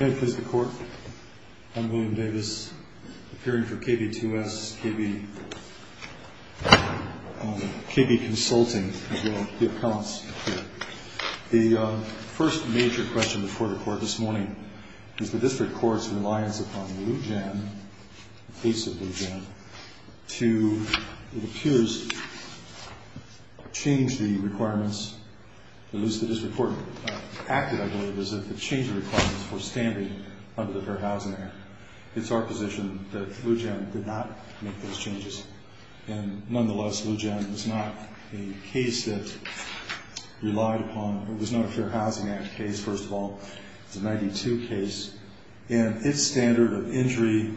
May it please the Court, I'm William Davis, appearing for KB2S, KB Consulting, as well as the Appellants here. The first major question before the Court this morning is the District Court's reliance upon Lou Jan, the case of Lou Jan, to, it appears, change the requirements, at least the District Court acted, I believe, as if it changed the requirements for standing under the Fair Housing Act. It's our position that Lou Jan did not make those changes. And nonetheless, Lou Jan was not a case that relied upon, it was not a Fair Housing Act case, first of all. It's a 92 case, and its standard of injury,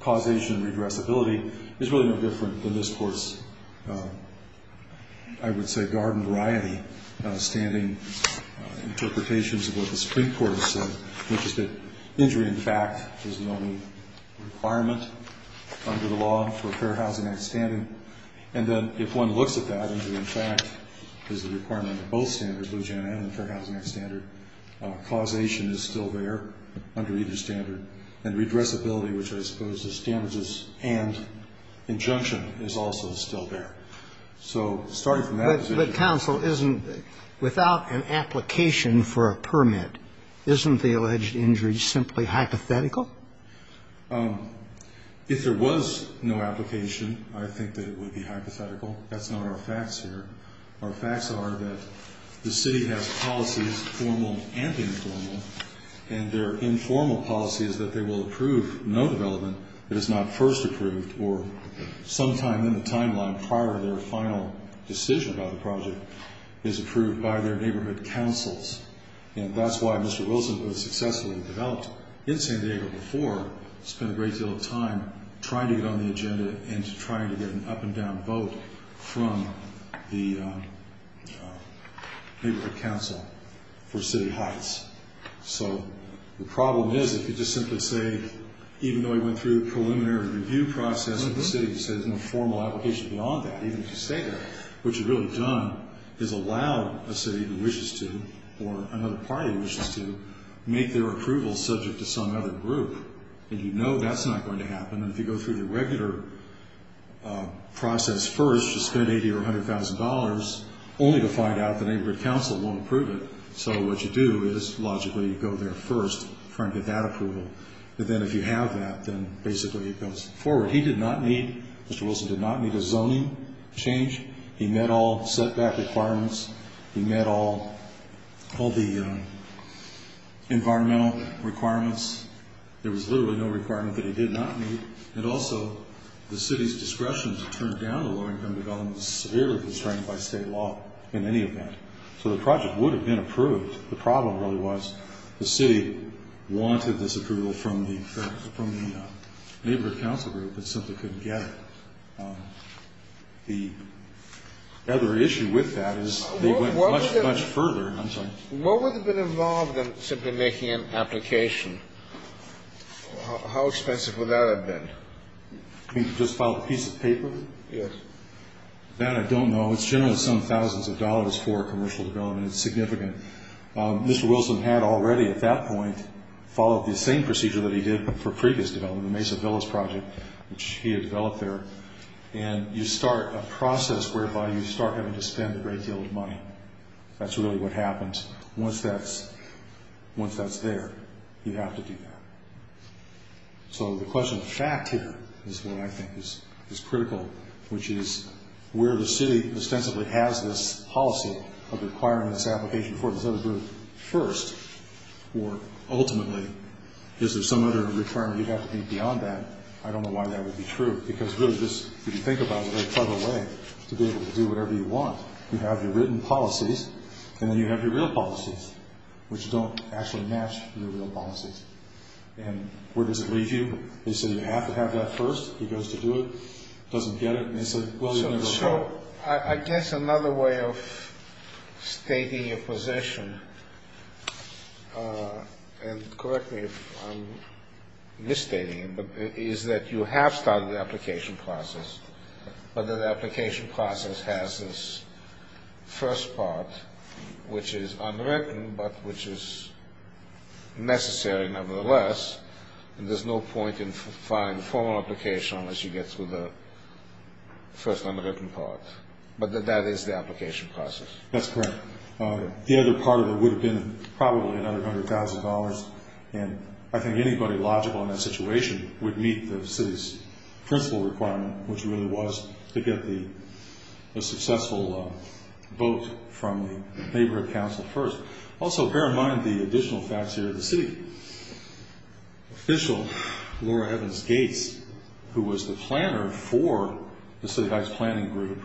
causation, and regressibility is really no different than this Court's, I would say, garden variety standing interpretations of what the District Court has said, which is that injury, in fact, is the only requirement under the law for a Fair Housing Act standing. And then if one looks at that, injury, in fact, is the requirement under both standards, Lou Jan and the Fair Housing Act standard. Causation is still there under either standard. And regressibility, which I suppose is standards and injunction, is also still there. So starting from that position. But, counsel, isn't, without an application for a permit, isn't the alleged injury simply hypothetical? If there was no application, I think that it would be hypothetical. That's not our facts here. Our facts are that the City has policies, formal and informal, and their informal policy is that they will approve no development that is not first approved or sometime in the timeline prior to their final decision about the project is approved by their neighborhood councils. And that's why Mr. Wilson was successfully developed in San Diego before, spent a great deal of time trying to get on the agenda and trying to get an up-and-down vote from the Neighborhood Council for City Heights. So the problem is, if you just simply say, even though he went through a preliminary review process with the City, he said there's no formal application beyond that, even if you stay there, what you've really done is allowed a City that wishes to, or another party that wishes to, make their approval subject to some other group. And you know that's not going to happen. And if you go through the regular process first, just spend $80,000 or $100,000, only to find out the Neighborhood Council won't approve it. So what you do is, logically, you go there first, try and get that approval. But then if you have that, then basically it goes forward. He did not need, Mr. Wilson did not need a zoning change. He met all setback requirements. He met all the environmental requirements. There was literally no requirement that he did not meet. And also, the City's discretion to turn down a low-income development is severely constrained by state law in any event. So the project would have been approved. The problem really was the City wanted this approval from the Neighborhood Council group, but simply couldn't get it. The other issue with that is they went much, much further. What would have been involved in simply making an application? How expensive would that have been? You mean to just file a piece of paper? Yes. That I don't know. It's generally some thousands of dollars for commercial development. It's significant. Mr. Wilson had already at that point followed the same procedure that he did for previous development, the Mesa Villas project, which he had developed there. And you start a process whereby you start having to spend a great deal of money. That's really what happens. Once that's there, you have to do that. So the question of fact here is what I think is critical, which is where the City ostensibly has this policy of requiring this application for this other group first, or ultimately, is there some other return you'd have to make beyond that? I don't know why that would be true, because really just, if you think about it, to be able to do whatever you want, you have your written policies, and then you have your real policies, which don't actually match your real policies. And where does it leave you? They say you have to have that first. He goes to do it, doesn't get it, and they say, well, you're going to go forward. So I guess another way of stating your position, and correct me if I'm misstating it, is that you have started the application process, but that the application process has this first part, which is unwritten, but which is necessary nevertheless, and there's no point in filing the formal application unless you get through the first unwritten part. But that that is the application process. That's correct. The other part of it would have been probably another $100,000, and I think anybody logical in that situation would meet the city's principle requirement, which really was to get the successful vote from the Neighborhood Council first. Also, bear in mind the additional facts here. The city official, Laura Evans Gates, who was the planner for the City Heights Planning Group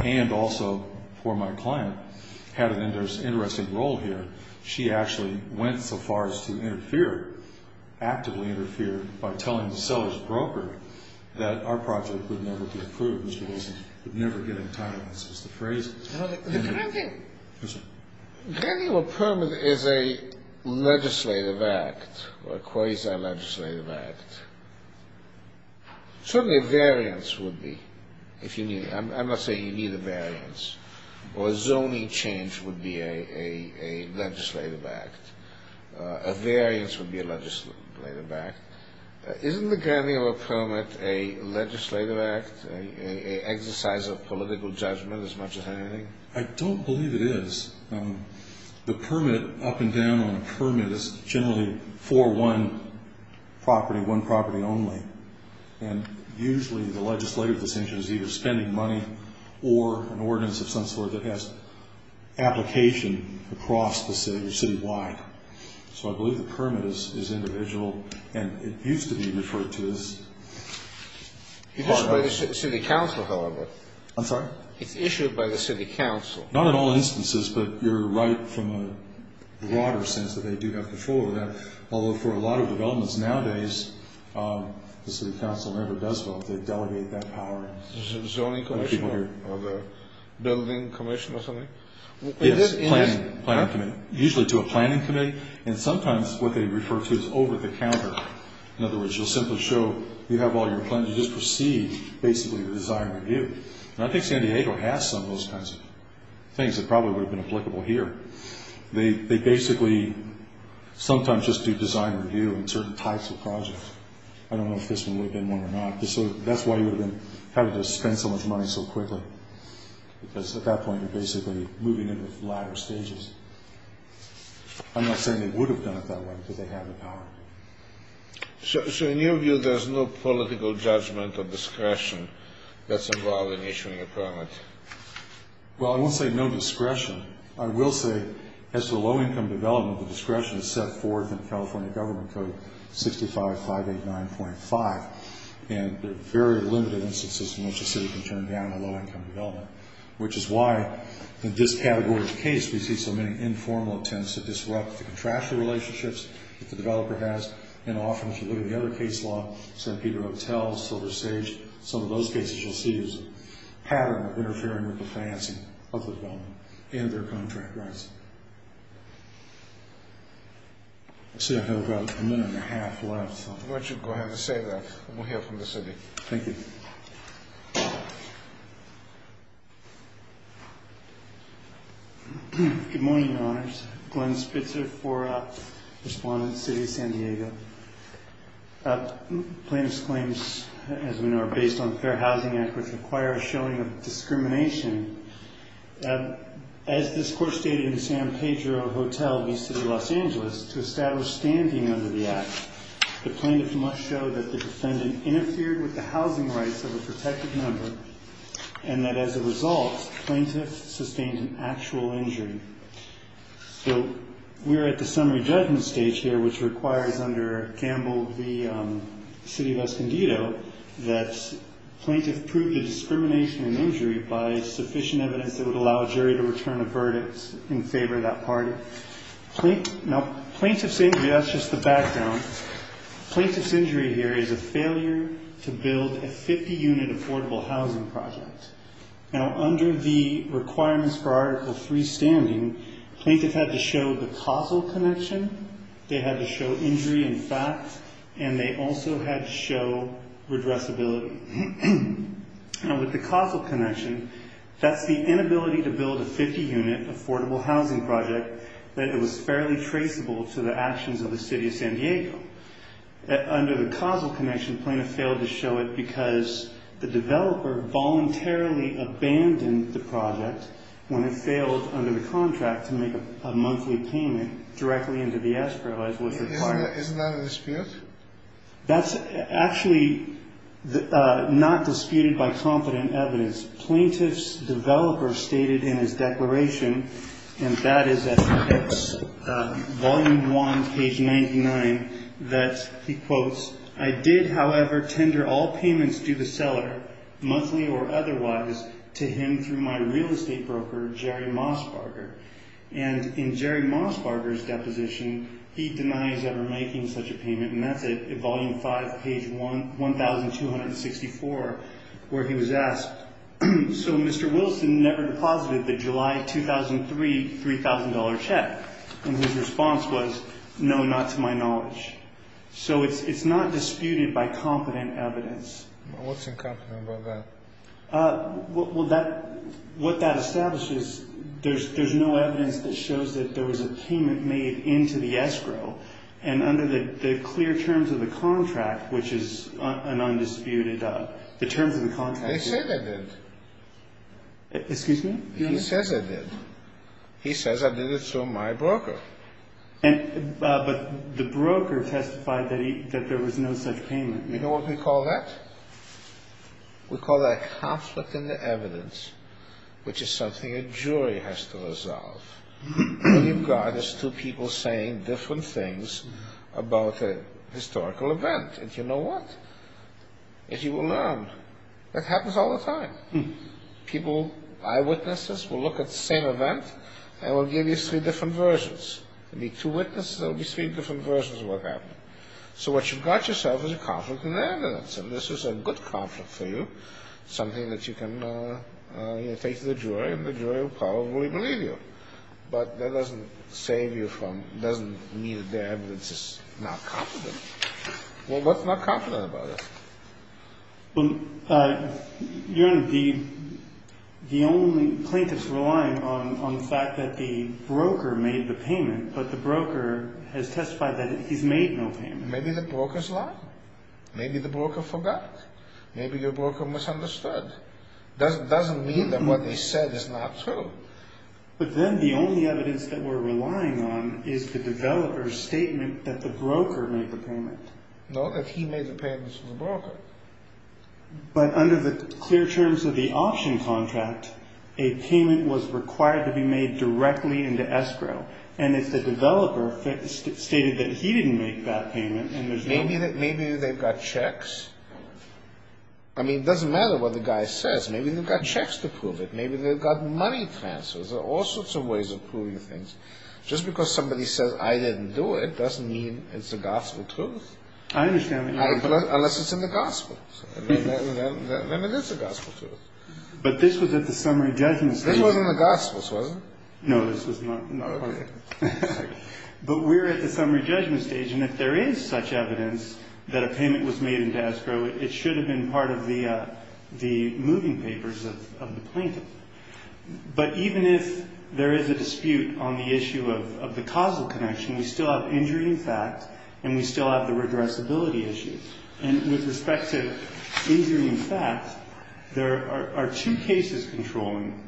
and also for my client, had an interesting role here. She actually went so far as to interfere, actively interfere, by telling the seller's broker that our project would never be approved, which means we'd never get entitlements, is the phrase. The granting of a permit is a legislative act or a quasi-legislative act. Certainly a variance would be, if you need it. Or a zoning change would be a legislative act. A variance would be a legislative act. Isn't the granting of a permit a legislative act, an exercise of political judgment as much as anything? I don't believe it is. The permit, up and down on a permit, is generally for one property, one property only. And usually the legislative decision is either spending money or an ordinance of some sort that has application across the city or citywide. So I believe the permit is individual, and it used to be referred to as part of the city council, however. I'm sorry? It's issued by the city council. Not in all instances, but you're right from a broader sense that they do have control over that, although for a lot of developments nowadays, the city council never does vote. They delegate that power. Is it a zoning commission or a building commission or something? It's a planning committee, usually to a planning committee, and sometimes what they refer to as over-the-counter. In other words, you'll simply show you have all your plans. You just proceed, basically, with the design review. And I think San Diego has some of those kinds of things that probably would have been applicable here. They basically sometimes just do design review in certain types of projects. I don't know if this one would have been one or not. That's why you would have been having to spend so much money so quickly because at that point you're basically moving into the latter stages. I'm not saying they would have done it that way because they have the power. So in your view, there's no political judgment or discretion that's involved in issuing a permit? Well, I won't say no discretion. I will say as to the low-income development, the discretion is set forth in California Government Code 65-589.5, and there are very limited instances in which a city can turn down a low-income development, which is why in this category of the case we see so many informal attempts to disrupt the contractual relationships that the developer has, and often if you look at the other case law, St. Peter Hotel, Silver Sage, some of those cases you'll see is a pattern of interfering with the financing of the development and their contract rights. I see I have about a minute and a half left. Why don't you go ahead and say that and we'll hear from the city. Thank you. Good morning, Your Honors. Glenn Spitzer for Respondent City of San Diego. Plaintiff's claims, as we know, are based on the Fair Housing Act, which requires showing of discrimination. As this court stated in San Pedro Hotel v. City of Los Angeles, to establish standing under the act, the plaintiff must show that the defendant interfered with the housing rights of a protected member and that as a result, the plaintiff sustained an actual injury. So we're at the summary judgment stage here, which requires under Gamble v. City of Escondido, that plaintiff prove the discrimination and injury by sufficient evidence that would allow a jury to return a verdict in favor of that party. Now, plaintiff's injury, that's just the background. Plaintiff's injury here is a failure to build a 50-unit affordable housing project. Now, under the requirements for Article III standing, plaintiff had to show the causal connection, they had to show injury in fact, and they also had to show redressability. Now, with the causal connection, that's the inability to build a 50-unit affordable housing project that was fairly traceable to the actions of the City of San Diego. Under the causal connection, plaintiff failed to show it because the developer voluntarily abandoned the project when it failed under the contract to make a monthly payment directly into the escrow as was required. Isn't that a dispute? That's actually not disputed by confident evidence. Plaintiff's developer stated in his declaration, and that is at volume one, page 99, that he quotes, I did, however, tender all payments due the seller, monthly or otherwise, to him through my real estate broker, Jerry Mosbarger. And in Jerry Mosbarger's deposition, he denies ever making such a payment, and that's at volume five, page 1264, where he was asked, so Mr. Wilson never deposited the July 2003 $3,000 check? So it's not disputed by confident evidence. What's incompetent about that? What that establishes, there's no evidence that shows that there was a payment made into the escrow, and under the clear terms of the contract, which is an undisputed, the terms of the contract... I said I did. Excuse me? But the broker testified that there was no such payment. You know what we call that? We call that conflict in the evidence, which is something a jury has to resolve. What you've got is two people saying different things about a historical event, and you know what? If you will learn, that happens all the time. People, eyewitnesses, will look at the same event and will give you three different versions. There will be two witnesses, there will be three different versions of what happened. So what you've got yourself is a conflict in the evidence, and this is a good conflict for you, something that you can take to the jury, and the jury will probably believe you. But that doesn't save you from, doesn't mean that the evidence is not competent. Well, what's not competent about it? Your Honor, the only plaintiff's relying on the fact that the broker made the payment, but the broker has testified that he's made no payment. Maybe the broker's lying. Maybe the broker forgot. Maybe your broker misunderstood. Doesn't mean that what they said is not true. But then the only evidence that we're relying on is the developer's statement that the broker made the payment. No, that he made the payment to the broker. But under the clear terms of the auction contract, a payment was required to be made directly into escrow, and if the developer stated that he didn't make that payment, then there's no... Maybe they've got checks. I mean, it doesn't matter what the guy says. Maybe they've got checks to prove it. Maybe they've got money transfers. There are all sorts of ways of proving things. Just because somebody says, I didn't do it, doesn't mean it's the gospel truth. I understand what you mean. Unless it's in the gospels. Then it is the gospel truth. But this was at the summary judgment stage. This was in the gospels, wasn't it? No, this was not part of it. But we're at the summary judgment stage, and if there is such evidence that a payment was made into escrow, it should have been part of the moving papers of the plaintiff. But even if there is a dispute on the issue of the causal connection, we still have injury in fact, and we still have the redressability issues. And with respect to injury in fact, there are two cases controlling.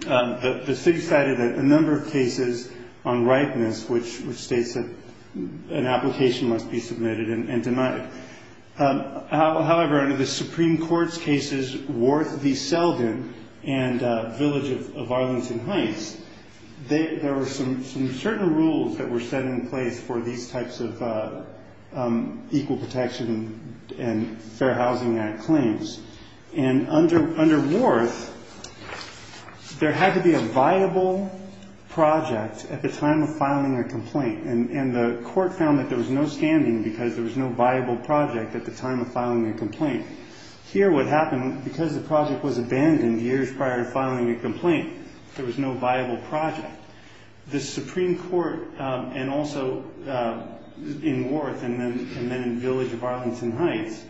The city cited a number of cases on ripeness, which states that an application must be submitted and denied. However, under the Supreme Court's cases, Worth v. Selden and Village of Arlington Heights, there were some certain rules that were set in place for these types of Equal Protection and Fair Housing Act claims. And under Worth, there had to be a viable project at the time of filing a complaint. And the court found that there was no standing because there was no viable project at the time of filing a complaint. Here what happened, because the project was abandoned years prior to filing a complaint, there was no viable project. The Supreme Court, and also in Worth and then in Village of Arlington Heights,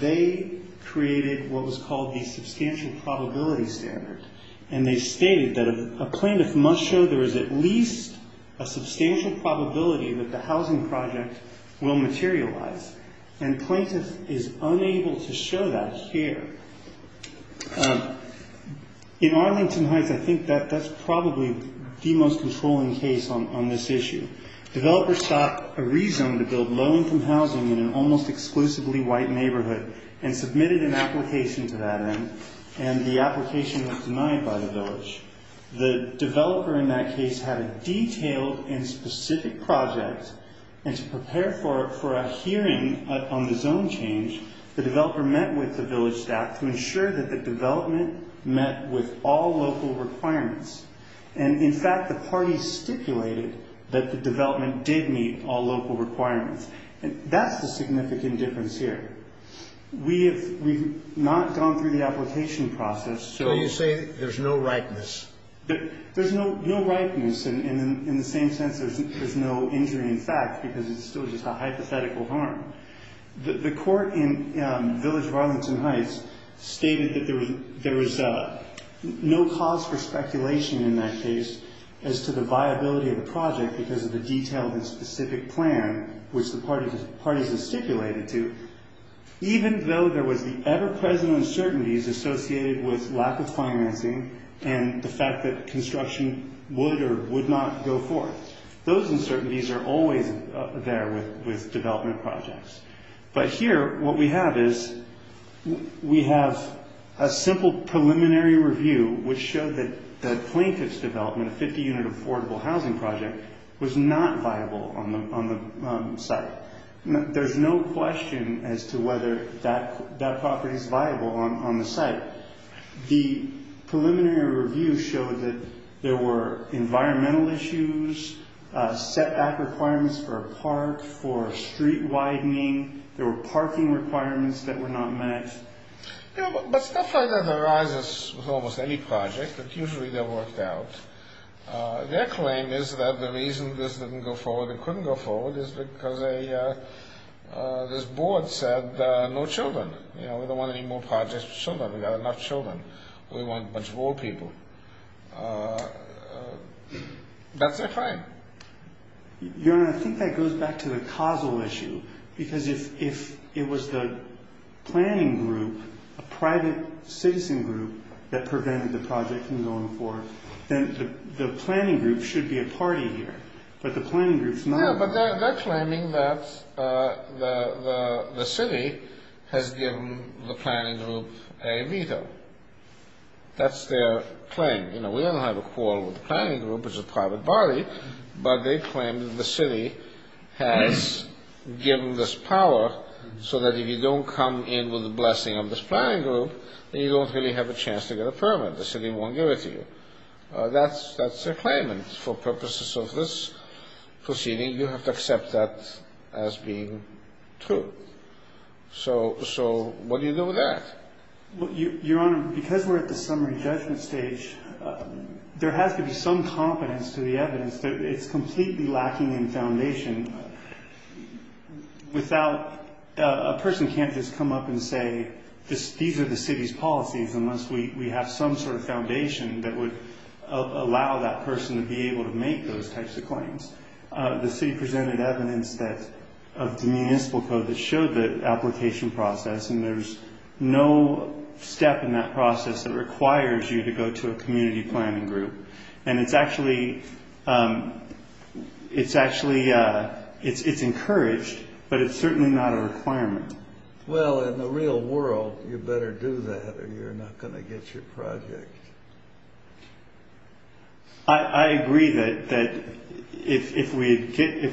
they created what was called the substantial probability standard. And they stated that a plaintiff must show there is at least a substantial probability that the housing project will materialize. And plaintiff is unable to show that here. In Arlington Heights, I think that's probably the most controlling case on this issue. Developers sought a reason to build low-income housing in an almost exclusively white neighborhood and submitted an application to that end, and the application was denied by the village. The developer in that case had a detailed and specific project, and to prepare for a hearing on the zone change, the developer met with the village staff to ensure that the development met with all local requirements. And in fact, the parties stipulated that the development did meet all local requirements. And that's the significant difference here. We have not gone through the application process. So you say there's no ripeness. There's no ripeness, and in the same sense there's no injury in fact, because it's still just a hypothetical harm. The court in Village of Arlington Heights stated that there was no cause for speculation in that case as to the viability of the project because of the detailed and specific plan, which the parties have stipulated to, even though there was the ever-present uncertainties associated with lack of financing and the fact that construction would or would not go forth. Those uncertainties are always there with development projects. But here what we have is we have a simple preliminary review, which showed that the plaintiff's development, a 50-unit affordable housing project, was not viable on the site. There's no question as to whether that property is viable on the site. The preliminary review showed that there were environmental issues, setback requirements for a park, for street widening, there were parking requirements that were not met. But stuff like that arises with almost any project. Usually they're worked out. Their claim is that the reason this didn't go forward and couldn't go forward is because this board said no children. We don't want any more projects with children. We've got enough children. We want a bunch of old people. That's their claim. Your Honor, I think that goes back to the causal issue, because if it was the planning group, a private citizen group, that prevented the project from going forward, then the planning group should be a party here, but the planning group's not. Yeah, but they're claiming that the city has given the planning group a veto. That's their claim. We don't have a quarrel with the planning group, which is a private body, but they claim that the city has given this power so that if you don't come in with the blessing of this planning group, then you don't really have a chance to get a permit. The city won't give it to you. That's their claim, and for purposes of this proceeding, you have to accept that as being true. So what do you do with that? Your Honor, because we're at the summary judgment stage, there has to be some confidence to the evidence that it's completely lacking in foundation. A person can't just come up and say these are the city's policies unless we have some sort of foundation that would allow that person to be able to make those types of claims. The city presented evidence of the municipal code that showed the application process, and there's no step in that process that requires you to go to a community planning group. And it's actually encouraged, but it's certainly not a requirement. Well, in the real world, you better do that or you're not going to get your project. I agree that if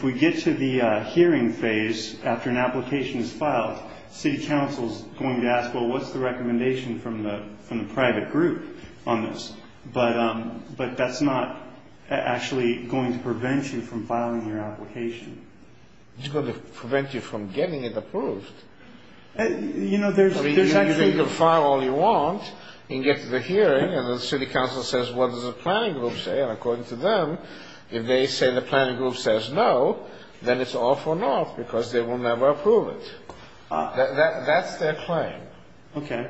we get to the hearing phase after an application is filed, city council is going to ask, well, what's the recommendation from the private group on this? But that's not actually going to prevent you from filing your application. It's going to prevent you from getting it approved. You know, there's actually going to file all you want and get to the hearing, and the city council says, what does the planning group say? And according to them, if they say the planning group says no, then it's off and off because they will never approve it. That's their claim. Okay.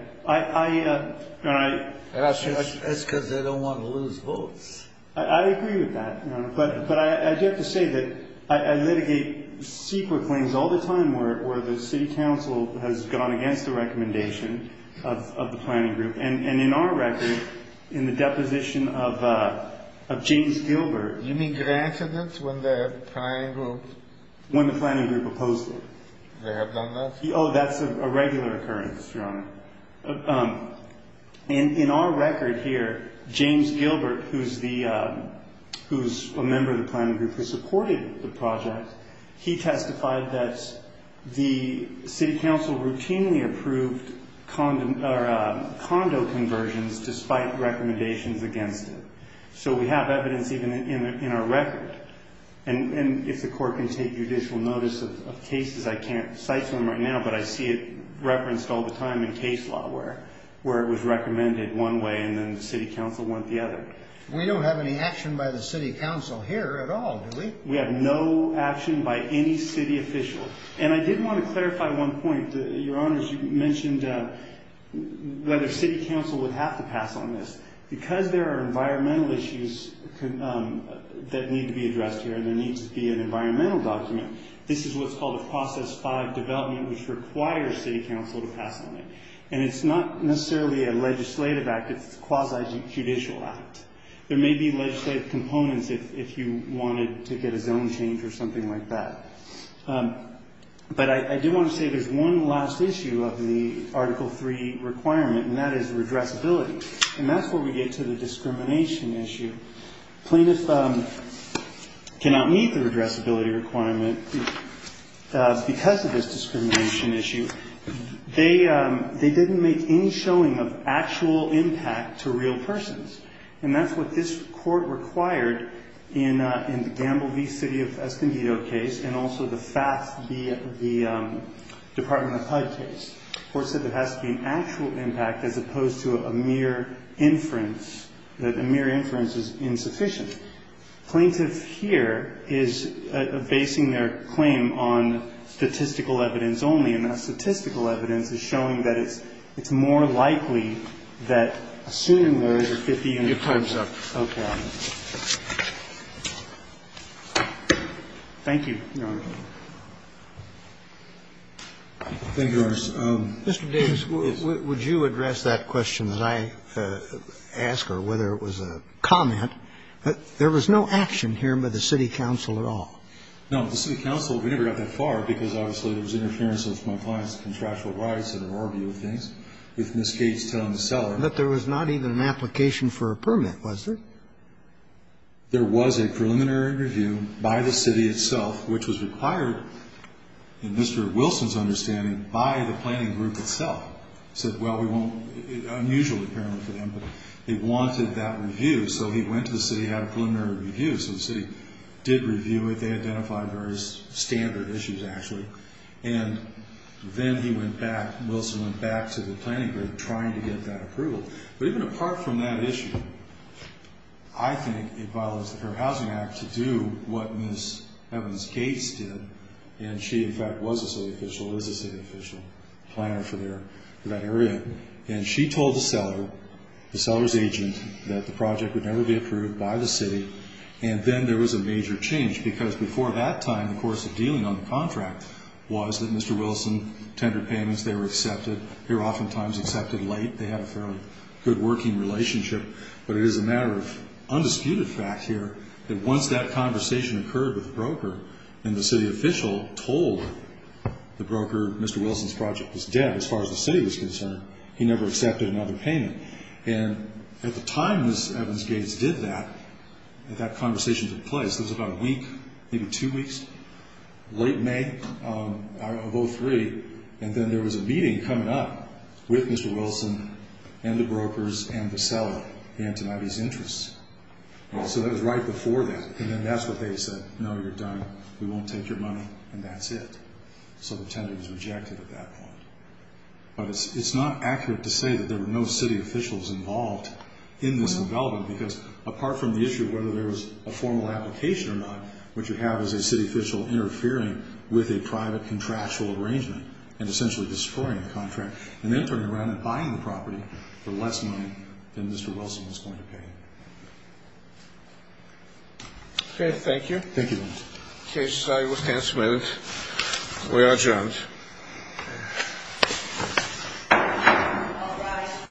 That's because they don't want to lose votes. I agree with that. But I do have to say that I litigate secret claims all the time where the city council has gone against the recommendation of the planning group. And in our record, in the deposition of James Gilbert. You mean grad students when the planning group? When the planning group opposed it. They have done that? Oh, that's a regular occurrence, Your Honor. In our record here, James Gilbert, who's a member of the planning group who supported the project, he testified that the city council routinely approved condo conversions despite recommendations against it. So we have evidence even in our record. And if the court can take judicial notice of cases, I can't cite some right now, but I see it referenced all the time in case law where it was recommended one way and then the city council went the other. We don't have any action by the city council here at all, do we? We have no action by any city official. And I did want to clarify one point, Your Honors. You mentioned whether city council would have to pass on this. Because there are environmental issues that need to be addressed here, and there needs to be an environmental document, this is what's called a Process 5 development, which requires city council to pass on it. And it's not necessarily a legislative act. It's a quasi-judicial act. There may be legislative components if you wanted to get a zone change or something like that. But I do want to say there's one last issue of the Article 3 requirement, and that is redressability. And that's where we get to the discrimination issue. Plaintiffs cannot meet the redressability requirement because of this discrimination issue. They didn't make any showing of actual impact to real persons. And that's what this court required in the Gamble v. City of Escondido case and also the FAFS v. Department of HUD case. The court said there has to be an actual impact as opposed to a mere inference, that a mere inference is insufficient. Plaintiff here is basing their claim on statistical evidence only, and that statistical evidence is showing that it's more likely that assuming there is a 50-unit case. Your time's up. Okay. Thank you, Your Honor. Mr. Davis, would you address that question that I asked, or whether it was a comment? There was no action here by the city council at all. No. The city council, we never got that far because, obviously, there was interference of my client's contractual rights and an ordeal of things with Ms. Gates telling the seller. But there was not even an application for a permit, was there? It was required, in Mr. Wilson's understanding, by the planning group itself. He said, well, we won't, it's unusual apparently for them, but they wanted that review. So he went to the city and had a preliminary review. So the city did review it. They identified various standard issues, actually. And then he went back, Wilson went back to the planning group trying to get that approval. But even apart from that issue, I think it follows the Fair Housing Act to do what Ms. Gates did. And she, in fact, was a city official, is a city official planner for that area. And she told the seller, the seller's agent, that the project would never be approved by the city. And then there was a major change because before that time, the course of dealing on the contract was that Mr. Wilson tendered payments. They were accepted. They were oftentimes accepted late. They had a fairly good working relationship. But it is a matter of undisputed fact here that once that conversation occurred with the broker, and the city official told the broker Mr. Wilson's project was dead as far as the city was concerned. He never accepted another payment. And at the time Ms. Evans Gates did that, that conversation took place, it was about a week, maybe two weeks, late May of 03. And then there was a meeting coming up with Mr. Wilson and the brokers and the seller and tonight he's interest. So that was right before that. And then that's what they said. No, you're done. We won't take your money. And that's it. So the tender was rejected at that point. But it's not accurate to say that there were no city officials involved in this development because apart from the issue of whether there was a formal application or not, what you have is a city official interfering with a private contractual arrangement and essentially destroying the contract. And then turning around and buying the property for less money than Mr. Wilson was going to Okay. Thank you. Thank you. Okay. Sorry. We're adjourned.